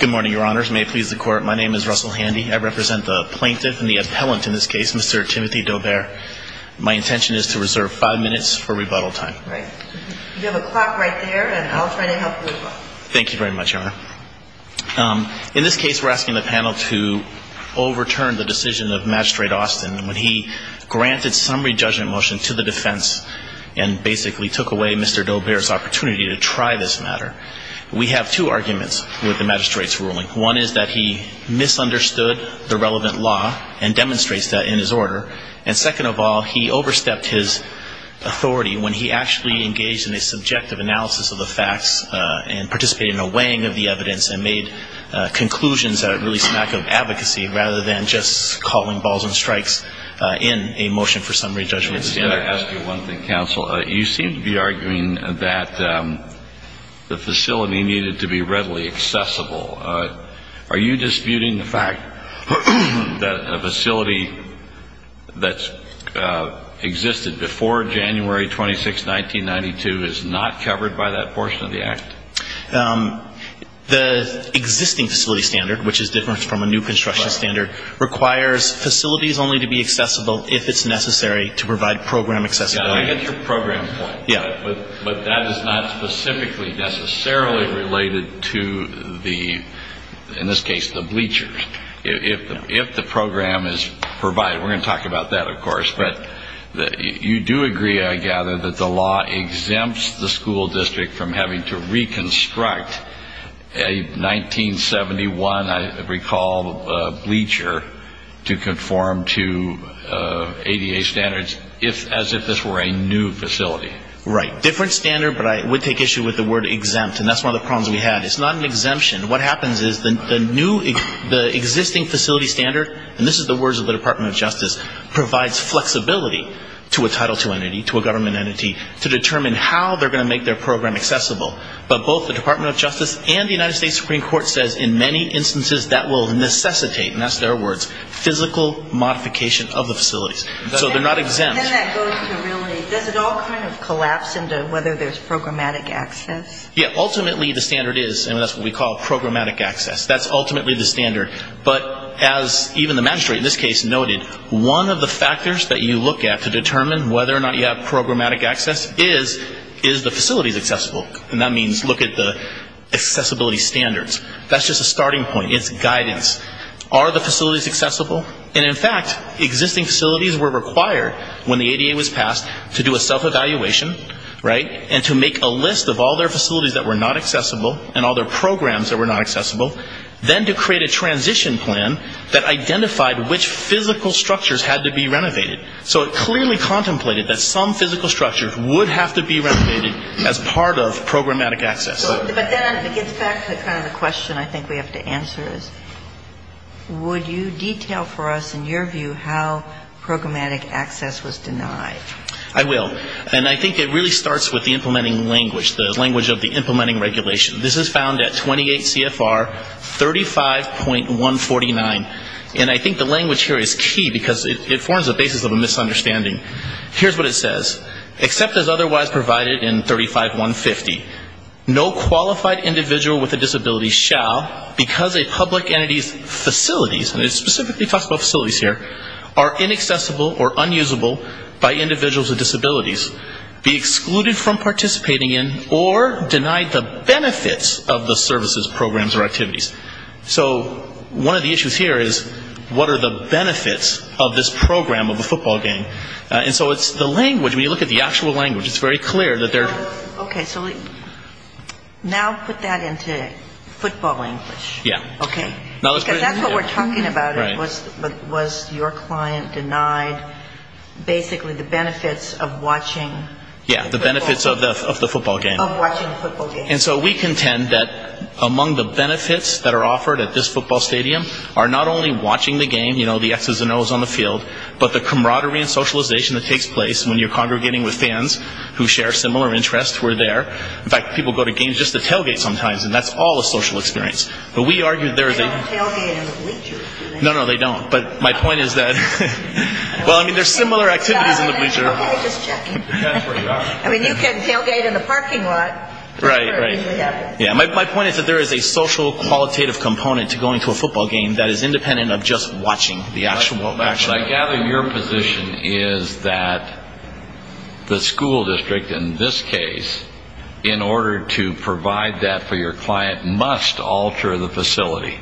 Good morning, Your Honors. May it please the Court, my name is Russell Handy. I represent the plaintiff and the appellant in this case, Mr. Timothy Daubert. My intention is to reserve five minutes for rebuttal time. Right. You have a clock right there and I'll try to help you with that. Thank you very much, Your Honor. In this case, we're asking the panel to overturn the decision of Magistrate Austin when he granted summary judgment motion to the defense and basically took away Mr. Daubert's opportunity to try this matter. We have two arguments with the magistrate's ruling. One is that he misunderstood the relevant law and demonstrates that in his order. And second of all, he overstepped his authority when he actually engaged in a subjective analysis of the facts and participated in a weighing of the evidence and made conclusions that are really smack of advocacy rather than just calling balls and strikes in a motion for summary judgment. May I ask you one thing, counsel? You seem to be arguing that the facility needed to be readily accessible. Are you disputing the fact that a facility that existed before January 26, 1992 is not covered by that portion of the act? The existing facility standard, which is different from a new construction standard, requires facilities only to be accessible if it's necessary to provide program accessibility. But that is not specifically necessarily related to the, in this case, the bleachers. If the program is provided, we're going to talk about that, of course, but you do agree, I gather, that the law exempts the school district from having to reconstruct a 1971, I recall, bleacher to conform to ADA standards. If, as if this were a new facility. Right. Different standard, but I would take issue with the word exempt, and that's one of the problems we had. It's not an exemption. What happens is the new, the existing facility standard, and this is the words of the Department of Justice, provides flexibility to a Title II entity, to a government entity, to determine how they're going to make their program accessible. But both the Department of Justice and the United States Supreme Court says in many instances that will necessitate, and that's their words, physical modification of the facilities. So they're not exempt. Then that goes to really, does it all kind of collapse into whether there's programmatic access? Yeah, ultimately the standard is, and that's what we call programmatic access. That's ultimately the standard. But as even the magistrate in this case noted, one of the factors that you look at to determine whether or not you have programmatic access is, is the facilities accessible. And that means look at the accessibility standards. That's just a starting point. It's guidance. Are the facilities accessible? And in fact, existing facilities were required when the ADA was passed to do a self-evaluation, right, and to make a list of all their facilities that were not accessible and all their programs that were not accessible, then to create a transition plan that identified which physical structures had to be renovated. So it clearly contemplated that some physical structures would have to be renovated as part of programmatic access. But then it gets back to kind of the question I think we have to answer is, would you detail for us in your view how programmatic access was denied? I will. And I think it really starts with the implementing language, the language of the implementing regulation. This is found at 28 CFR 35.149. And I think the language here is key because it forms the basis of a misunderstanding. Here's what it says. Except as otherwise provided in 35.150, no qualified individual with a disability shall, because a public entity's facilities, and it specifically talks about facilities here, are inaccessible or unusable by individuals with disabilities, be excluded from participating in or denied the benefits of the services, programs, or activities. So one of the issues here is, what are the benefits of this program of a football game? And so it's the language. When you look at the actual language, it's very clear that they're ‑‑ Okay. So now put that into football language. Yeah. Okay? Because that's what we're talking about. Right. Was your client denied basically the benefits of watching football? Yeah, the benefits of the football game. Of watching the football game. And so we contend that among the benefits that are offered at this football stadium are not only watching the game, you know, the X's and O's on the field, but the camaraderie and socialization that takes place when you're congregating with fans who share similar interests who are there. In fact, people go to games just to tailgate sometimes, and that's all a social experience. But we argue there's a ‑‑ They don't tailgate in the bleachers, do they? No, no, they don't. But my point is that, well, I mean, there's similar activities in the bleachers. I mean, you can tailgate in the parking lot. Right, right. My point is that there is a social qualitative component to going to a football game that is independent of just watching the actual action. I gather your position is that the school district in this case, in order to provide that for your client, must alter the facility.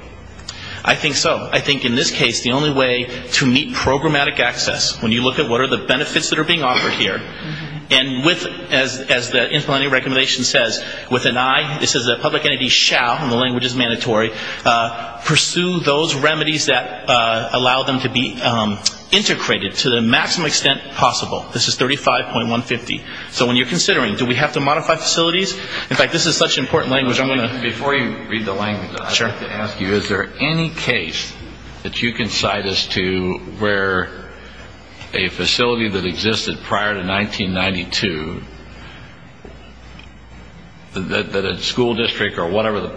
I think so. I think in this case the only way to meet programmatic access, when you look at what are the benefits that are being offered here, and with, as the intellectual recommendation says, with an eye, this is a public entity, shall, and the language is mandatory, pursue those remedies that allow them to be integrated to the maximum extent possible. This is 35.150. So when you're considering, do we have to modify facilities? In fact, this is such important language, I'm going to Before you read the language, I'd like to ask you, is there any case that you can cite as to where a facility that existed prior to 1992, that a school district or whatever the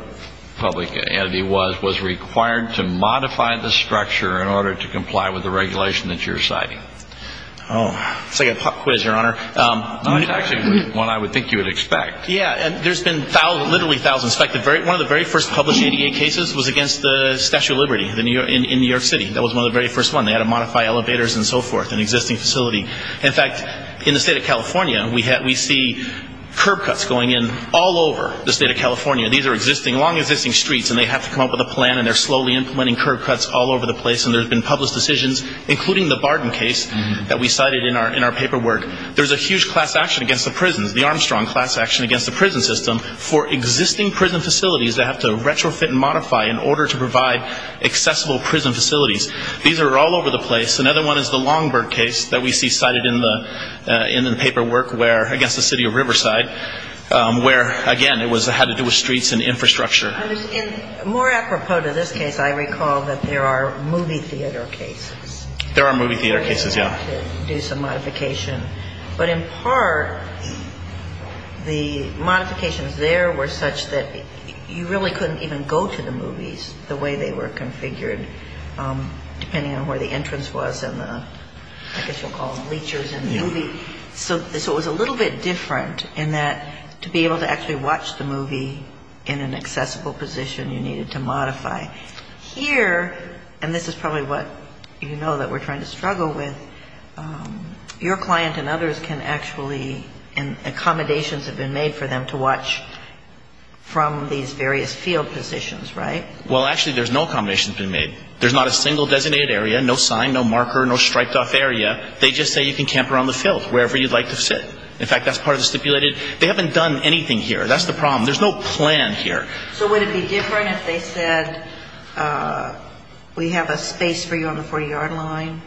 public entity was, was required to modify the structure in order to comply with the regulation that you're citing? Oh, it's like a pop quiz, Your Honor. It's actually one I would think you would expect. Yeah, and there's been literally thousands. In fact, one of the very first published ADA cases was against the Statue of Liberty in New York City. That was one of the very first ones. They had to modify elevators and so forth, an existing facility. In fact, in the state of California, we see curb cuts going in all over the state of California. These are existing, long existing streets, and they have to come up with a plan, and they're slowly implementing curb cuts all over the place. And there's been published decisions, including the Barton case that we cited in our paperwork. There's a huge class action against the prisons, the Armstrong class action against the prison system, for existing prison facilities that have to retrofit and modify in order to provide accessible prison facilities. These are all over the place. Another one is the Longburg case that we see cited in the paperwork against the city of Riverside, where, again, it had to do with streets and infrastructure. More apropos to this case, I recall that there are movie theater cases. There are movie theater cases, yeah. They had to do some modification. But in part, the modifications there were such that you really couldn't even go to the movies the way they were configured, depending on where the entrance was and the, I guess you'll call them, leechers in the movie. So it was a little bit different in that to be able to actually watch the movie in an accessible position, you needed to modify. Here, and this is probably what you know that we're trying to struggle with, your client and others can actually, and accommodations have been made for them to watch from these various field positions, right? Well, actually, there's no accommodations being made. There's not a single designated area, no sign, no marker, no striped-off area. They just say you can camp around the field, wherever you'd like to sit. In fact, that's part of the stipulated. They haven't done anything here. That's the problem. There's no plan here. So would it be different if they said we have a space for you on the 40-yard line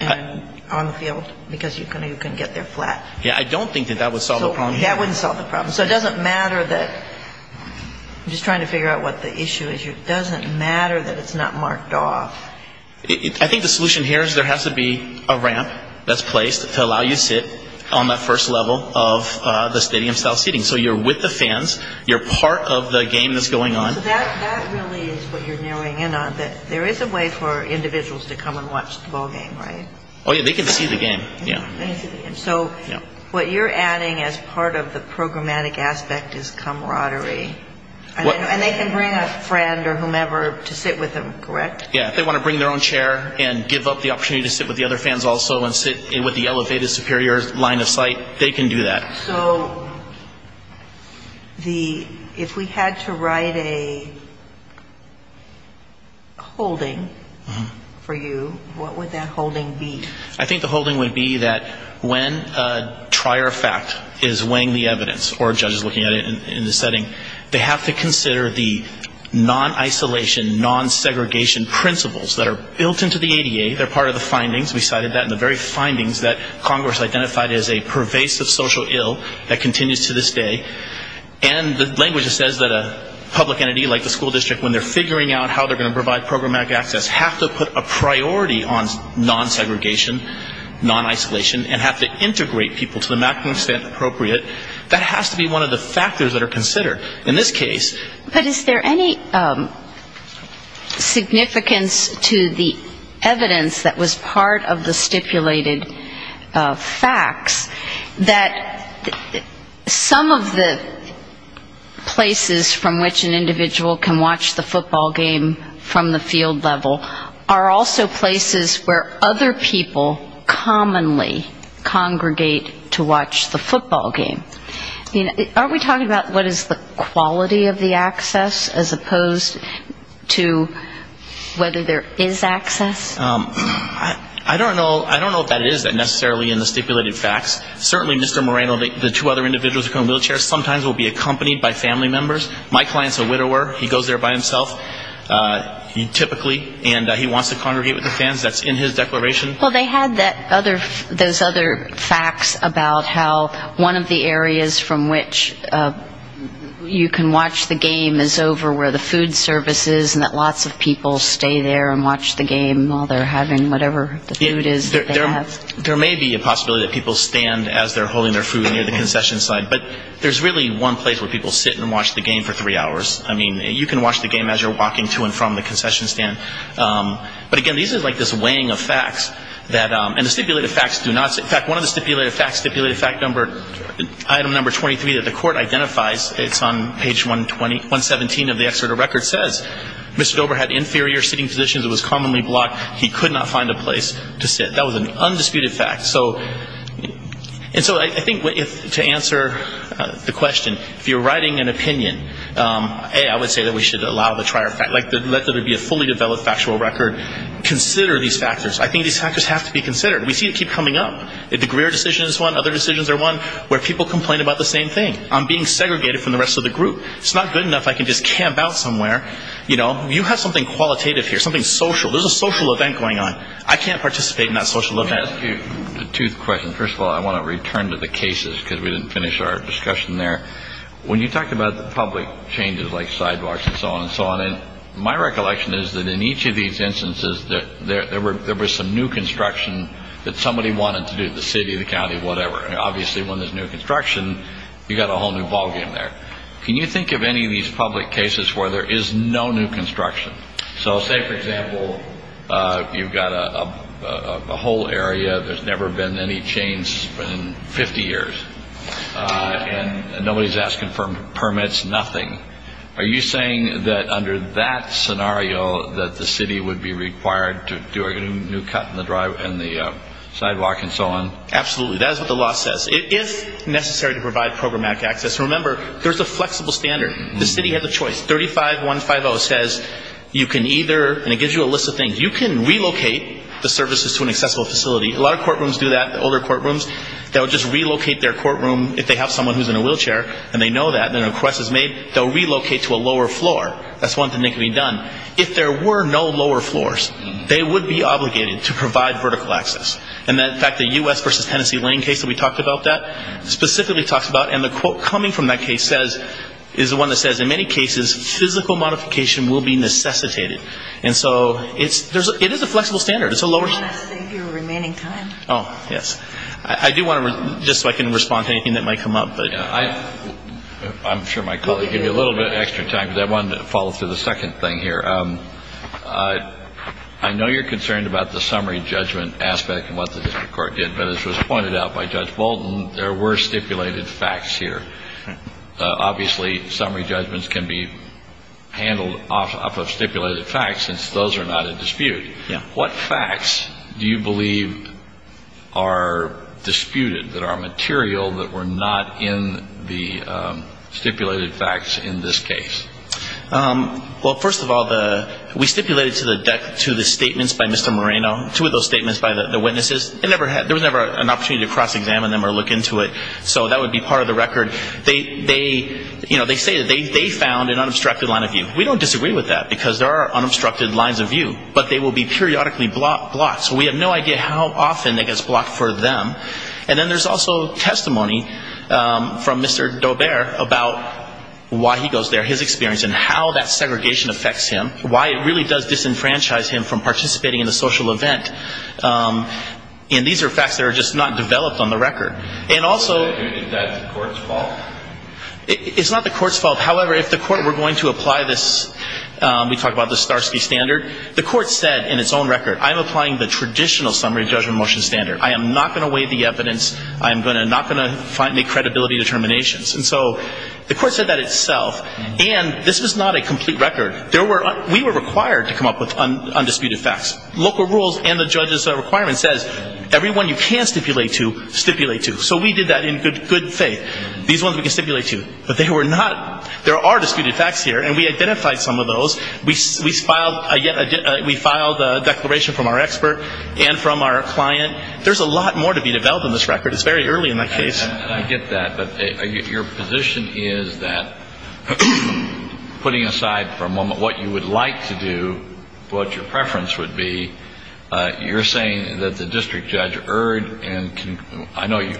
and on the field because you can get there flat? Yeah, I don't think that that would solve the problem. So it doesn't matter that, I'm just trying to figure out what the issue is here, it doesn't matter that it's not marked off. I think the solution here is there has to be a ramp that's placed to allow you to sit on that first level of the stadium-style seating. So you're with the fans, you're part of the game that's going on. So that really is what you're narrowing in on, that there is a way for individuals to come and watch the ballgame, right? Oh, yeah, they can see the game, yeah. So what you're adding as part of the programmatic aspect is camaraderie. And they can bring a friend or whomever to sit with them, correct? Yeah, if they want to bring their own chair and give up the opportunity to sit with the other fans also and sit with the elevated superior line of sight, they can do that. So if we had to write a holding for you, what would that holding be? I think the holding would be that when a trier of fact is weighing the evidence or a judge is looking at it in the setting, they have to consider the non-isolation, non-segregation principles that are built into the ADA, they're part of the findings, we cited that in the very findings that Congress identified as a pervasive social ill that continues to this day. And the language says that a public entity like the school district, when they're figuring out how they're going to provide programmatic access, have to put a priority on non-segregation, non-isolation, and have to integrate people to the maximum extent appropriate. That has to be one of the factors that are considered. In this case... But is there any significance to the evidence that was part of the stipulated facts that some of the places from which an individual can watch the football game from the field level are also places where other people commonly congregate to watch the football game? I mean, aren't we talking about what is the quality of the access as opposed to whether there is access? I don't know if that is necessarily in the stipulated facts. Certainly Mr. Moreno, the two other individuals in wheelchairs sometimes will be accompanied by family members. My client is a widower, he goes there by himself, typically, and he wants to congregate with the fans, that's in his declaration. Well, they had those other facts about how one of the areas from which you can watch the game is over where the food service is and that lots of people stay there and watch the game while they're having whatever the food is that they have. There may be a possibility that people stand as they're holding their food near the concession side, but there's really one place where people sit and watch the game for three hours. I mean, you can watch the game as you're walking to and from the concession stand. But again, these are like this weighing of facts. And the stipulated facts do not say... In fact, one of the stipulated facts, stipulated fact number, item number 23 that the court identifies, it's on page 117 of the excerpt of the record, says Mr. Dober had inferior sitting positions, it was commonly blocked, he could not find a place to sit. That was an undisputed fact. And so I think to answer the question, if you're writing an opinion, A, I would say that we should allow the trier fact, like let there be a fully developed factual record, consider these factors. I think these factors have to be considered. We see it keep coming up. The Greer decision is one, other decisions are one, where people complain about the same thing. I'm being segregated from the rest of the group. It's not good enough I can just camp out somewhere. You know, you have something qualitative here, something social. There's a social event going on. I can't participate in that social event. Let me ask you a tooth question. First of all, I want to return to the cases because we didn't finish our discussion there. When you talk about the public changes like sidewalks and so on and so on, my recollection is that in each of these instances that there were there was some new construction that somebody wanted to do, the city, the county, whatever. Obviously, when there's new construction, you've got a whole new ballgame there. Can you think of any of these public cases where there is no new construction? So say, for example, you've got a whole area. There's never been any change in 50 years. And nobody's asking for permits, nothing. Are you saying that under that scenario that the city would be required to do a new cut in the sidewalk and so on? Absolutely. That is what the law says. It is necessary to provide programmatic access. Remember, there's a flexible standard. The city has a choice. 35150 says you can either, and it gives you a list of things, you can relocate the services to an accessible facility. A lot of courtrooms do that, older courtrooms. They'll just relocate their courtroom if they have someone who's in a wheelchair and they know that, and a request is made, they'll relocate to a lower floor. That's one thing that can be done. If there were no lower floors, they would be obligated to provide vertical access. And, in fact, the U.S. v. Tennessee Lane case that we talked about that specifically talks about, and the quote coming from that case is the one that says, in many cases, physical modification will be necessitated. And so it is a flexible standard. I want to save your remaining time. Oh, yes. I do want to, just so I can respond to anything that might come up. I'm sure my colleague gave you a little bit of extra time, but I wanted to follow through the second thing here. I know you're concerned about the summary judgment aspect and what the district court did, but as was pointed out by Judge Bolton, there were stipulated facts here. Obviously, summary judgments can be handled off of stipulated facts since those are not in dispute. Yeah. What facts do you believe are disputed that are material that were not in the stipulated facts in this case? Well, first of all, we stipulated to the statements by Mr. Moreno, two of those statements by the witnesses. There was never an opportunity to cross-examine them or look into it, so that would be part of the record. They say that they found an unobstructed line of view. We don't disagree with that because there are unobstructed lines of view, but they will be periodically blocked. So we have no idea how often it gets blocked for them. And then there's also testimony from Mr. Daubert about why he goes there, his experience, and how that segregation affects him, why it really does disenfranchise him from participating in the social event. And these are facts that are just not developed on the record. And also – Is that the court's fault? It's not the court's fault. However, if the court were going to apply this – we talk about the Starsky standard. The court said in its own record, I'm applying the traditional summary judgment motion standard. I am not going to weigh the evidence. I am not going to make credibility determinations. And so the court said that itself. And this was not a complete record. We were required to come up with undisputed facts. Local rules and the judge's requirement says everyone you can stipulate to, stipulate to. So we did that in good faith. These ones we can stipulate to. But they were not – there are disputed facts here, and we identified some of those. We filed a declaration from our expert and from our client. There's a lot more to be developed on this record. It's very early in the case. I get that. But your position is that, putting aside for a moment what you would like to do, what your preference would be, you're saying that the district judge erred in – I know you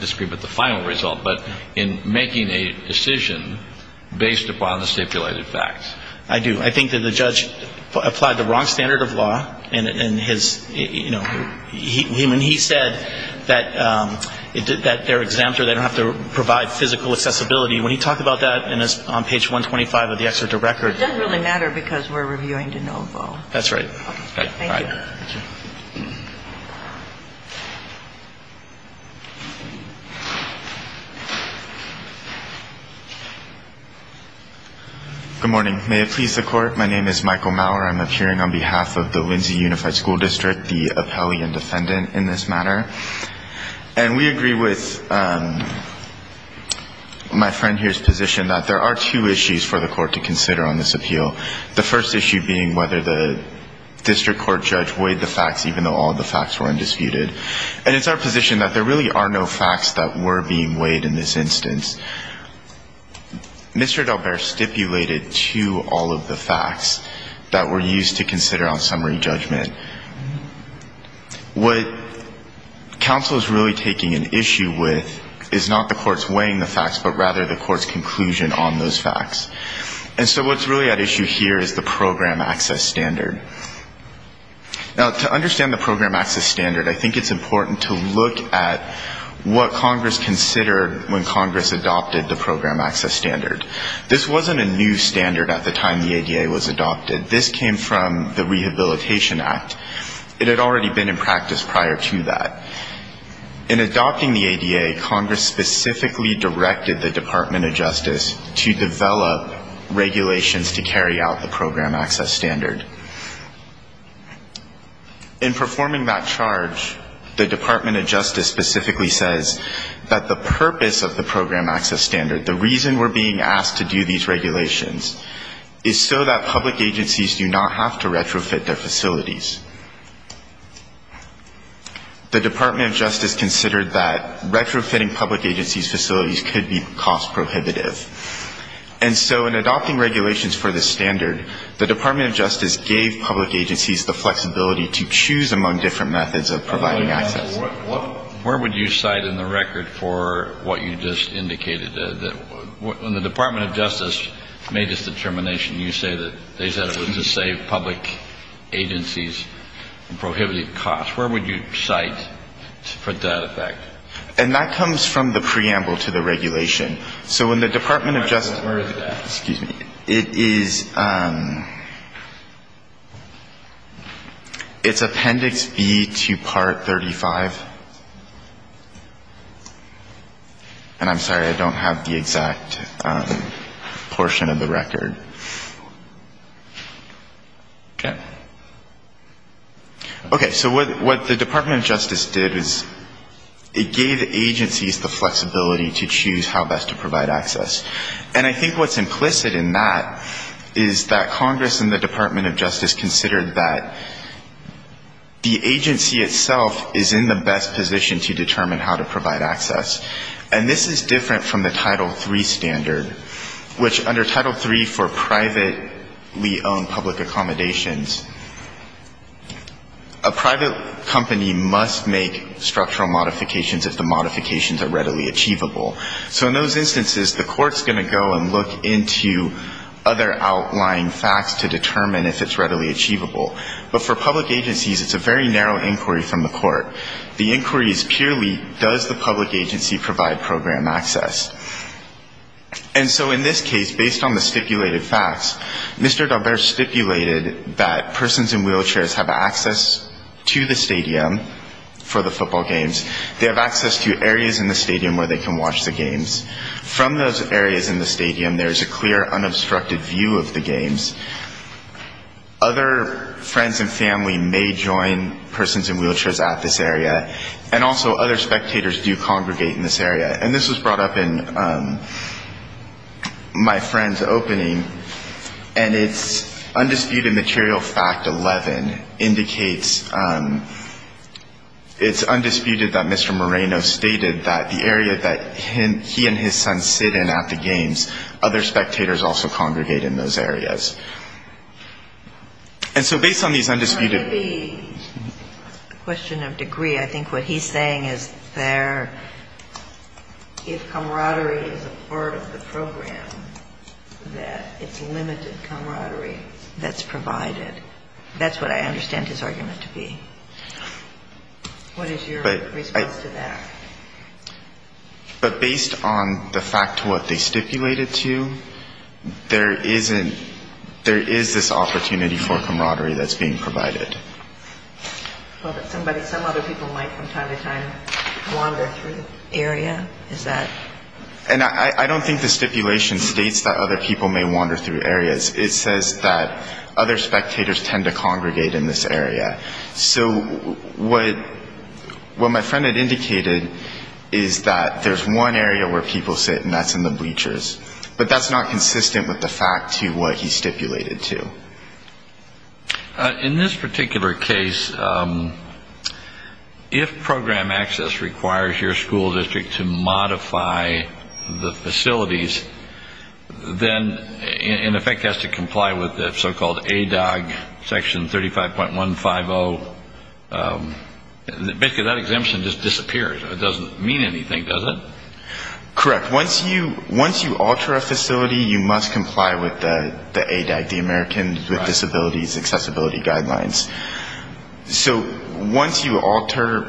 disagree about the final result – but in making a decision based upon the stipulated facts. I do. I think that the judge applied the wrong standard of law in his – you know, when he said that they're exempt or they don't have to provide physical accessibility, when he talked about that on page 125 of the exerted record. It doesn't really matter because we're reviewing de novo. That's right. Thank you. Good morning. May it please the Court. My name is Michael Maurer. I'm appearing on behalf of the Lindsay Unified School District, the appellee and defendant in this matter. And we agree with my friend here's position that there are two issues for the Court to consider on this appeal, the first issue being whether the district court judge weighed the facts, even though all the facts were undisputed. And it's our position that there really are no facts that were being weighed in this instance. Mr. Delbert stipulated to all of the facts that were used to consider on summary judgment. What counsel is really taking an issue with is not the court's weighing the facts, but rather the court's conclusion on those facts. And so what's really at issue here is the program access standard. Now, to understand the program access standard, I think it's important to look at what Congress considered when Congress adopted the program access standard. This wasn't a new standard at the time the ADA was adopted. This came from the Rehabilitation Act. It had already been in practice prior to that. In adopting the ADA, Congress specifically directed the Department of Justice to develop regulations to carry out the program access standard. In performing that charge, the Department of Justice specifically says that the purpose of the program access standard, the reason we're being asked to do these regulations, is so that public agencies do not have to retrofit their facilities. The Department of Justice considered that retrofitting public agencies' facilities could be cost prohibitive. And so in adopting regulations for this standard, the Department of Justice gave public agencies the flexibility to choose among different methods of providing access. Where would you cite in the record for what you just indicated, that when the Department of Justice made this determination, you say that they said it was to save public agencies from prohibited costs? Where would you cite for that effect? And that comes from the preamble to the regulation. So when the Department of Justice – Where is that? Excuse me. It is – it's Appendix B to Part 35. And I'm sorry. I don't have the exact portion of the record. Okay. Okay. So what the Department of Justice did is it gave agencies the flexibility to choose how best to provide access. And I think what's implicit in that is that Congress and the Department of Justice considered that the agency itself is in the best position to determine how to provide access. And this is different from the Title III standard, which under Title III for privately owned public accommodations, a private company must make structural modifications if the modifications are readily achievable. So in those instances, the court's going to go and look into other outlying facts to determine if it's readily achievable. But for public agencies, it's a very narrow inquiry from the court. The inquiry is purely, does the public agency provide program access? And so in this case, based on the stipulated facts, Mr. Dalbert stipulated that persons in wheelchairs have access to the stadium for the football games. They have access to areas in the stadium where they can watch the games. From those areas in the stadium, there is a clear, unobstructed view of the games. Other friends and family may join persons in wheelchairs at this area, and also other spectators do congregate in this area. And this was brought up in my friend's opening, and it's undisputed material fact 11 indicates it's undisputed that Mr. Moreno stated that the area that he and his son sit in at the games, other spectators also congregate in those areas. And so based on these undisputed ---- The question of degree, I think what he's saying is there, if camaraderie is a part of the program, that it's limited camaraderie that's provided. That's what I understand his argument to be. What is your response to that? But based on the fact what they stipulated to, there is this opportunity for camaraderie that's being provided. Some other people might from time to time wander through the area? And I don't think the stipulation states that other people may wander through areas. It says that other spectators tend to congregate in this area. So what my friend had indicated is that there's one area where people sit, and that's in the bleachers. But that's not consistent with the fact to what he stipulated to. In this particular case, if program access requires your school district to modify the facilities, then in effect has to comply with the so-called ADOG section 35.150. Basically, that exemption just disappears. It doesn't mean anything, does it? Correct. Once you alter a facility, you must comply with the ADOG, the American with Disabilities Accessibility Guidelines. So once you alter,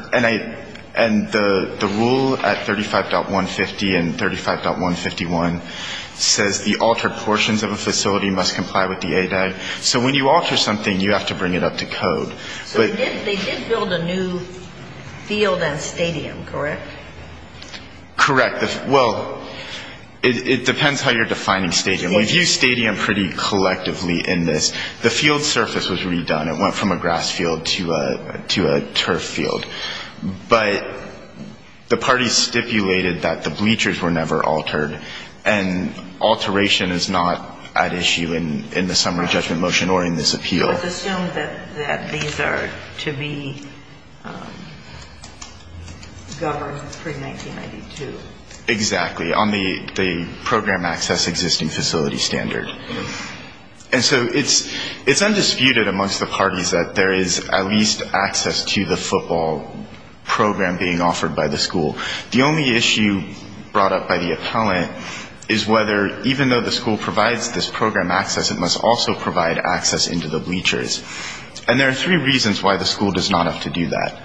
and the rule at 35.150 and 35.151 says the altered portions of a facility must comply with the ADOG. So when you alter something, you have to bring it up to code. So they did build a new field and stadium, correct? Correct. Well, it depends how you're defining stadium. We've used stadium pretty collectively in this. The field surface was redone. It went from a grass field to a turf field. But the parties stipulated that the bleachers were never altered, and alteration is not at issue in the summary judgment motion or in this appeal. It's assumed that these are to be governed pre-1992. Exactly, on the program access existing facility standard. And so it's undisputed amongst the parties that there is at least access to the football program being offered by the school. The only issue brought up by the appellant is whether, even though the school provides this program access, it must also provide access into the bleachers. And there are three reasons why the school does not have to do that.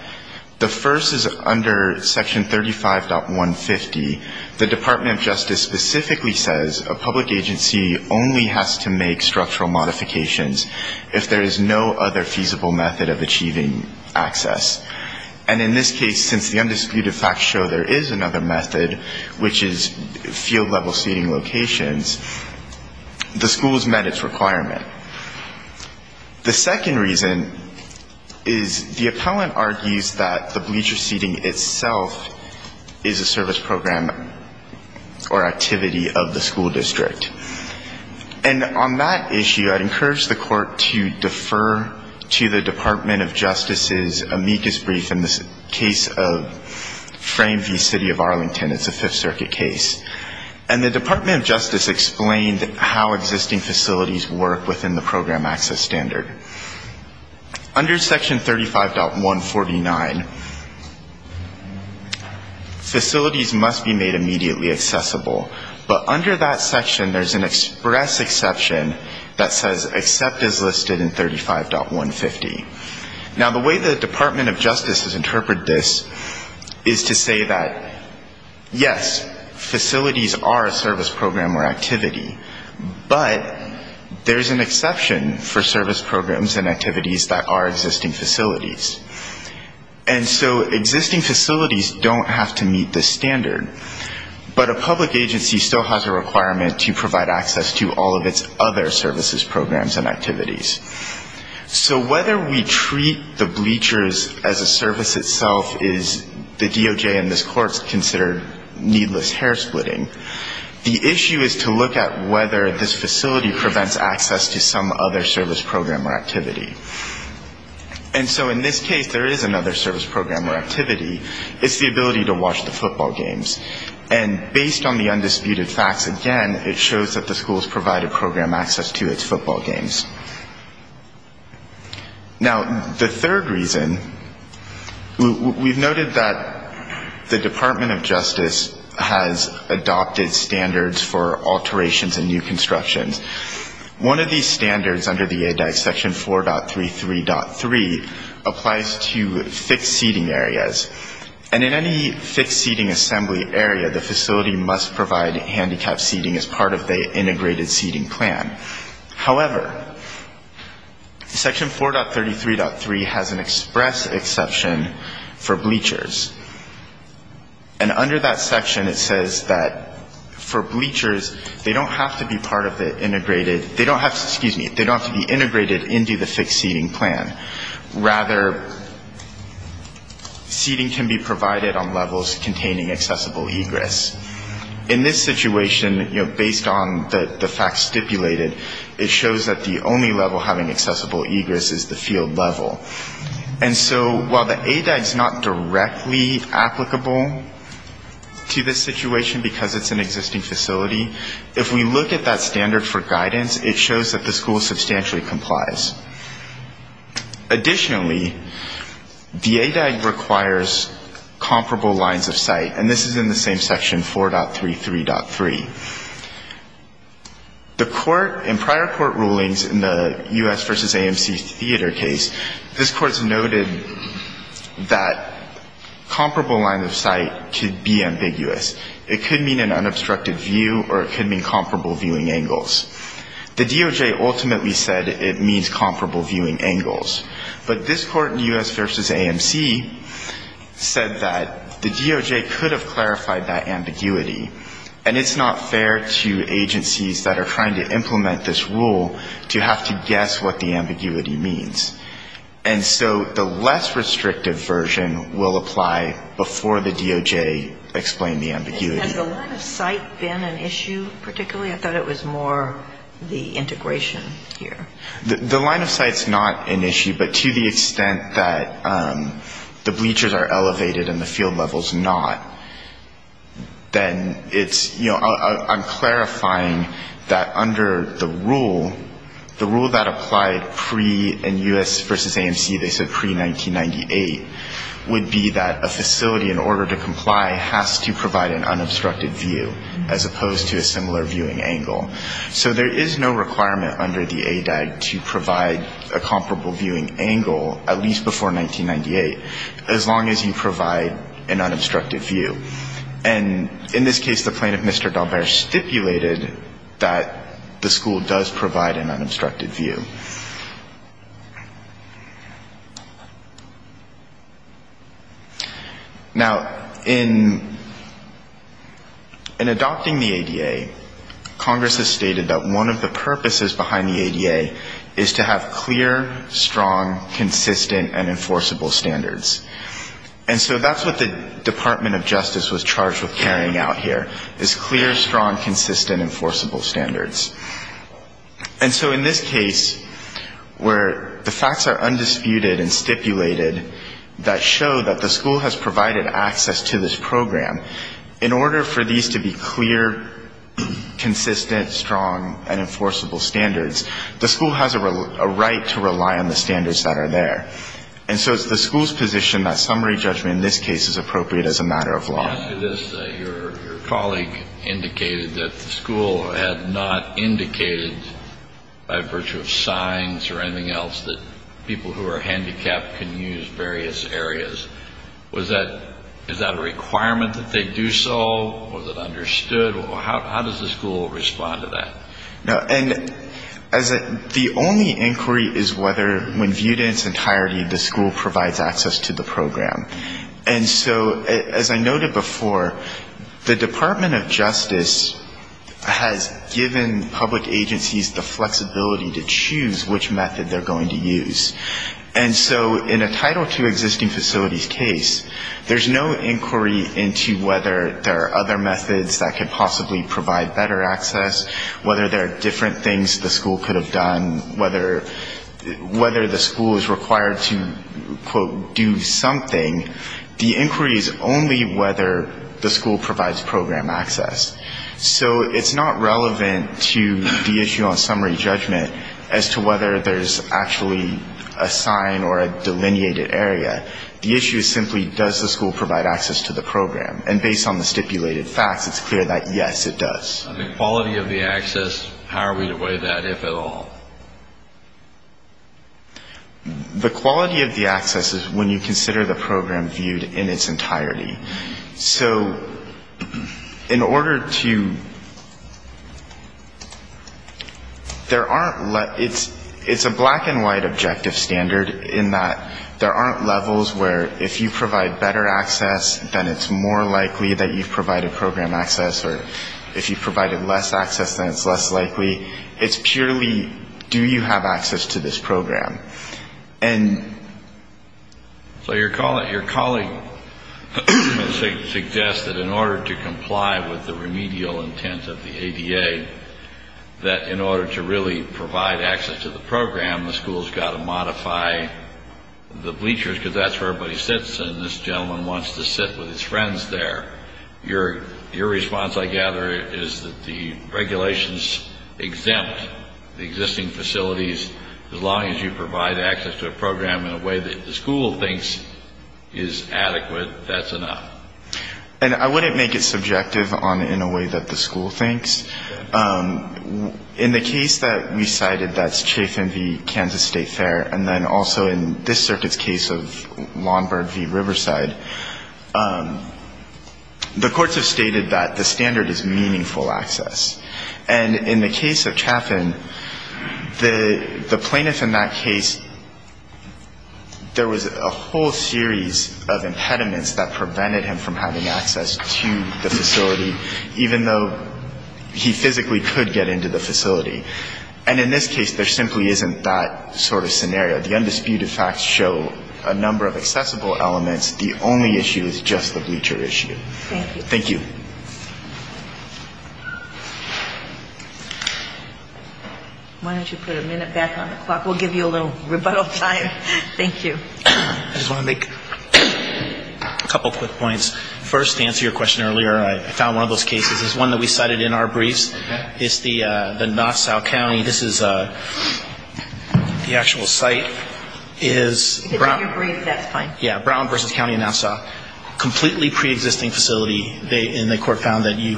The first is under section 35.150. The Department of Justice specifically says a public agency only has to make structural modifications if there is no other feasible method of achieving access. And in this case, since the undisputed facts show there is another method, which is field-level seating locations, the school has met its requirement. The second reason is the appellant argues that the bleacher seating itself is a service program or activity of the school district. And on that issue, I'd encourage the Court to defer to the Department of Justice's amicus brief in this case of Frame v. City of Arlington. It's a Fifth Circuit case. And the Department of Justice explained how existing facilities work within the program access standard. Under section 35.149, facilities must be made immediately accessible. But under that section, there's an express exception that says except is listed in 35.150. Now, the way the Department of Justice has interpreted this is to say that, yes, facilities are a service program or activity, but there's an exception for service programs and activities that are existing facilities. And so existing facilities don't have to meet this standard. But a public agency still has a requirement to provide access to all of its other services, programs and activities. So whether we treat the bleachers as a service itself is, the DOJ and this Court consider needless. And so in this case, there is another service program or activity. It's the ability to watch the football games. And based on the undisputed facts, again, it shows that the school has provided program access to its football games. Now, the third reason, we've noted that the Department of Justice has not provided access to the football games. The Department of Justice has adopted standards for alterations and new constructions. One of these standards under the AEDAC, section 4.33.3, applies to fixed seating areas. And in any fixed seating assembly area, the facility must provide handicapped seating as part of the integrated seating plan. However, section 4.33.3 has an express exception for bleachers. And under that section, it says that for bleachers, they don't have to be part of the integrated, they don't have to, excuse me, they don't have to be integrated into the fixed seating plan. Rather, seating can be provided on levels containing accessible egress. In this situation, you know, based on the facts stipulated, it shows that the only level having accessible egress is the field level. And so while the AEDAC is not directly applicable to this situation because it's an existing facility, if we look at that standard for guidance, it shows that the school substantially complies. Additionally, the AEDAC requires comparable lines of sight. And this is in the same section, 4.33.3. The court, in prior court rulings in the U.S. v. AMC theater case, this court has noted that comparable lines of sight could be ambiguous. It could mean an unobstructed view or it could mean comparable viewing angles. The DOJ ultimately said it means comparable viewing angles. But this court in U.S. v. AMC said that the DOJ could have clarified that ambiguity. And it's not fair to agencies that are trying to implement this rule to have to guess what the ambiguity means. And so the less restrictive version will apply before the DOJ explained the ambiguity. And has the line of sight been an issue particularly? I thought it was more the integration here. The line of sight's not an issue, but to the extent that the bleachers are elevated and the field level's not, then it's, you know, I'm clarifying that under the rule, the rule that applied pre in U.S. v. AMC, they said pre-1998, would be that a facility, in order to comply, has to provide an unobstructed view as opposed to a similar viewing angle. So there is no requirement under the AEDAC to provide a comparable viewing angle, at least before 1998, as long as you provide an unobstructed view. And in this case, the plaintiff, Mr. Dalbert, stipulated that the school does provide an unobstructed view. Now, in adopting the ADA, Congress has stated that one of the purposes behind the ADA is to have clear, strong, consistent, and enforceable standards. And so that's what the Department of Justice was charged with carrying out here, is clear, strong, consistent, enforceable standards. And so in this case, where the facts are undisputed and stipulated that show that the school has provided access to this program, in order for these to be clear, consistent, strong, and enforceable standards, the school has a right to rely on the standards that are there. And so it's the school's position that summary judgment in this case is appropriate as a matter of law. In answer to this, your colleague indicated that the school had not indicated, by virtue of signs or anything else, that people who are handicapped can use various areas. Is that a requirement that they do so? Was it understood? How does the school respond to that? And the only inquiry is whether, when viewed in its entirety, the school provides access to the program. And so, as I noted before, the Department of Justice has given public agencies the flexibility to choose which method they're going to use. And so in a Title II existing facilities case, there's no inquiry into whether there are other methods that could possibly provide better access, whether there are different things the school could have done, whether the school is required to quote, do something. The inquiry is only whether the school provides program access. So it's not relevant to the issue on summary judgment as to whether there's actually a sign or a delineated area. The issue is simply, does the school provide access to the program? And based on the stipulated facts, it's clear that, yes, it does. The quality of the access is when you consider the program viewed in its entirety. So in order to, there aren't, it's a black-and-white objective standard in that there aren't levels where if you provide better access, then it's more likely that you've provided program access, or if you've provided less access, then it's less likely. It's purely, do you have access to this program? And so your colleague suggests that in order to comply with the remedial intent of the ADA, that in order to really provide access to the program, the school's got to modify the bleachers, because that's where everybody sits. And this gentleman wants to sit with his friends there. Your response, I gather, is that the regulations exempt the existing facilities. As long as you provide access to a program in a way that the school thinks is adequate, that's enough. And I wouldn't make it subjective on in a way that the school thinks. In the case that we cited, that's Chaffin v. Kansas State Fair. And then also in this circuit's case of Lombard v. Riverside, the courts have stated that the standard is meaningful access. And in the case of Chaffin, the plaintiff in that case, there was a whole series of impediments that prevented him from having access to the facility, even though he physically could get into the facility. And in this case, there simply isn't that sort of scenario. The undisputed facts show a number of accessible elements. The only issue is just the bleacher issue. Thank you. Why don't you put a minute back on the clock. We'll give you a little rebuttal time. Thank you. I just want to make a couple quick points. First, to answer your question earlier, I found one of those cases. It's one that we cited in our briefs. It's the Nassau County, this is the actual site. If it's in your brief, that's fine. Yeah, Brown v. County of Nassau. Completely preexisting facility, and the court found that you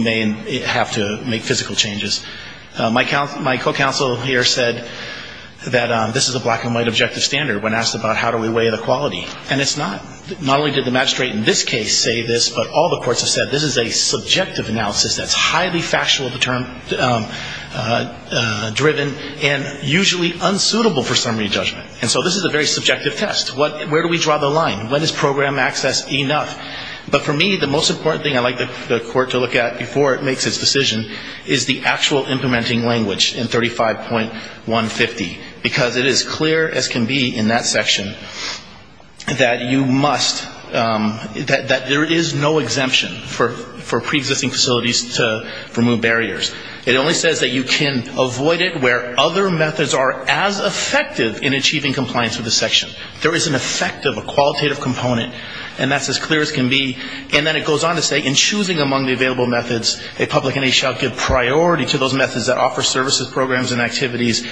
may have to make physical changes. My co-counsel here said that this is a black-and-white objective standard when asked about how do we weigh the quality. And it's not. Not only did the magistrate in this case say this, but all the courts have said this is a subjective analysis that's highly factual-driven and usually unsuitable for summary judgment. And so this is a very subjective test. Where do we draw the line? When is program access enough? But for me, the most important thing I'd like the court to look at before it makes its decision is the actual implementing language in 35.150. Because it is clear as can be in that section that you must, that there is no exemption for preexisting facilities to remove barriers. It only says that you can avoid it where other methods are as effective in achieving compliance with the section. There is an effective, a qualitative component, and that's as clear as can be. And then it goes on to say in choosing among the available methods, a public entity shall give priority to those methods that offer services, programs and activities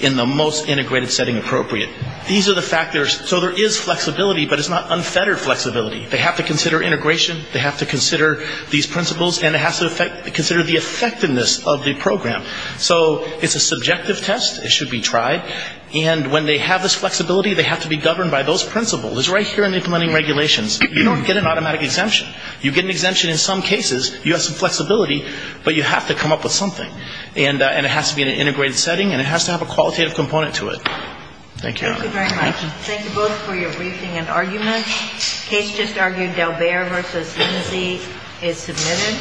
in the most integrated setting appropriate. These are the factors. So there is flexibility, but it's not unfettered flexibility. They have to consider integration, they have to consider these principles, and they have to consider the effectiveness of the program. So it's a subjective test. It should be tried. And when they have this flexibility, they have to be governed by those principles. It's right here in implementing regulations. You don't get an automatic exemption. You get an exemption in some cases. You have some flexibility, but you have to come up with something. And it has to be in an integrated setting, and it has to have a qualitative component to it. Thank you. Thank you very much. Thank you both for your briefing and arguments. The case just argued, Delbert v. Lindsay, is submitted.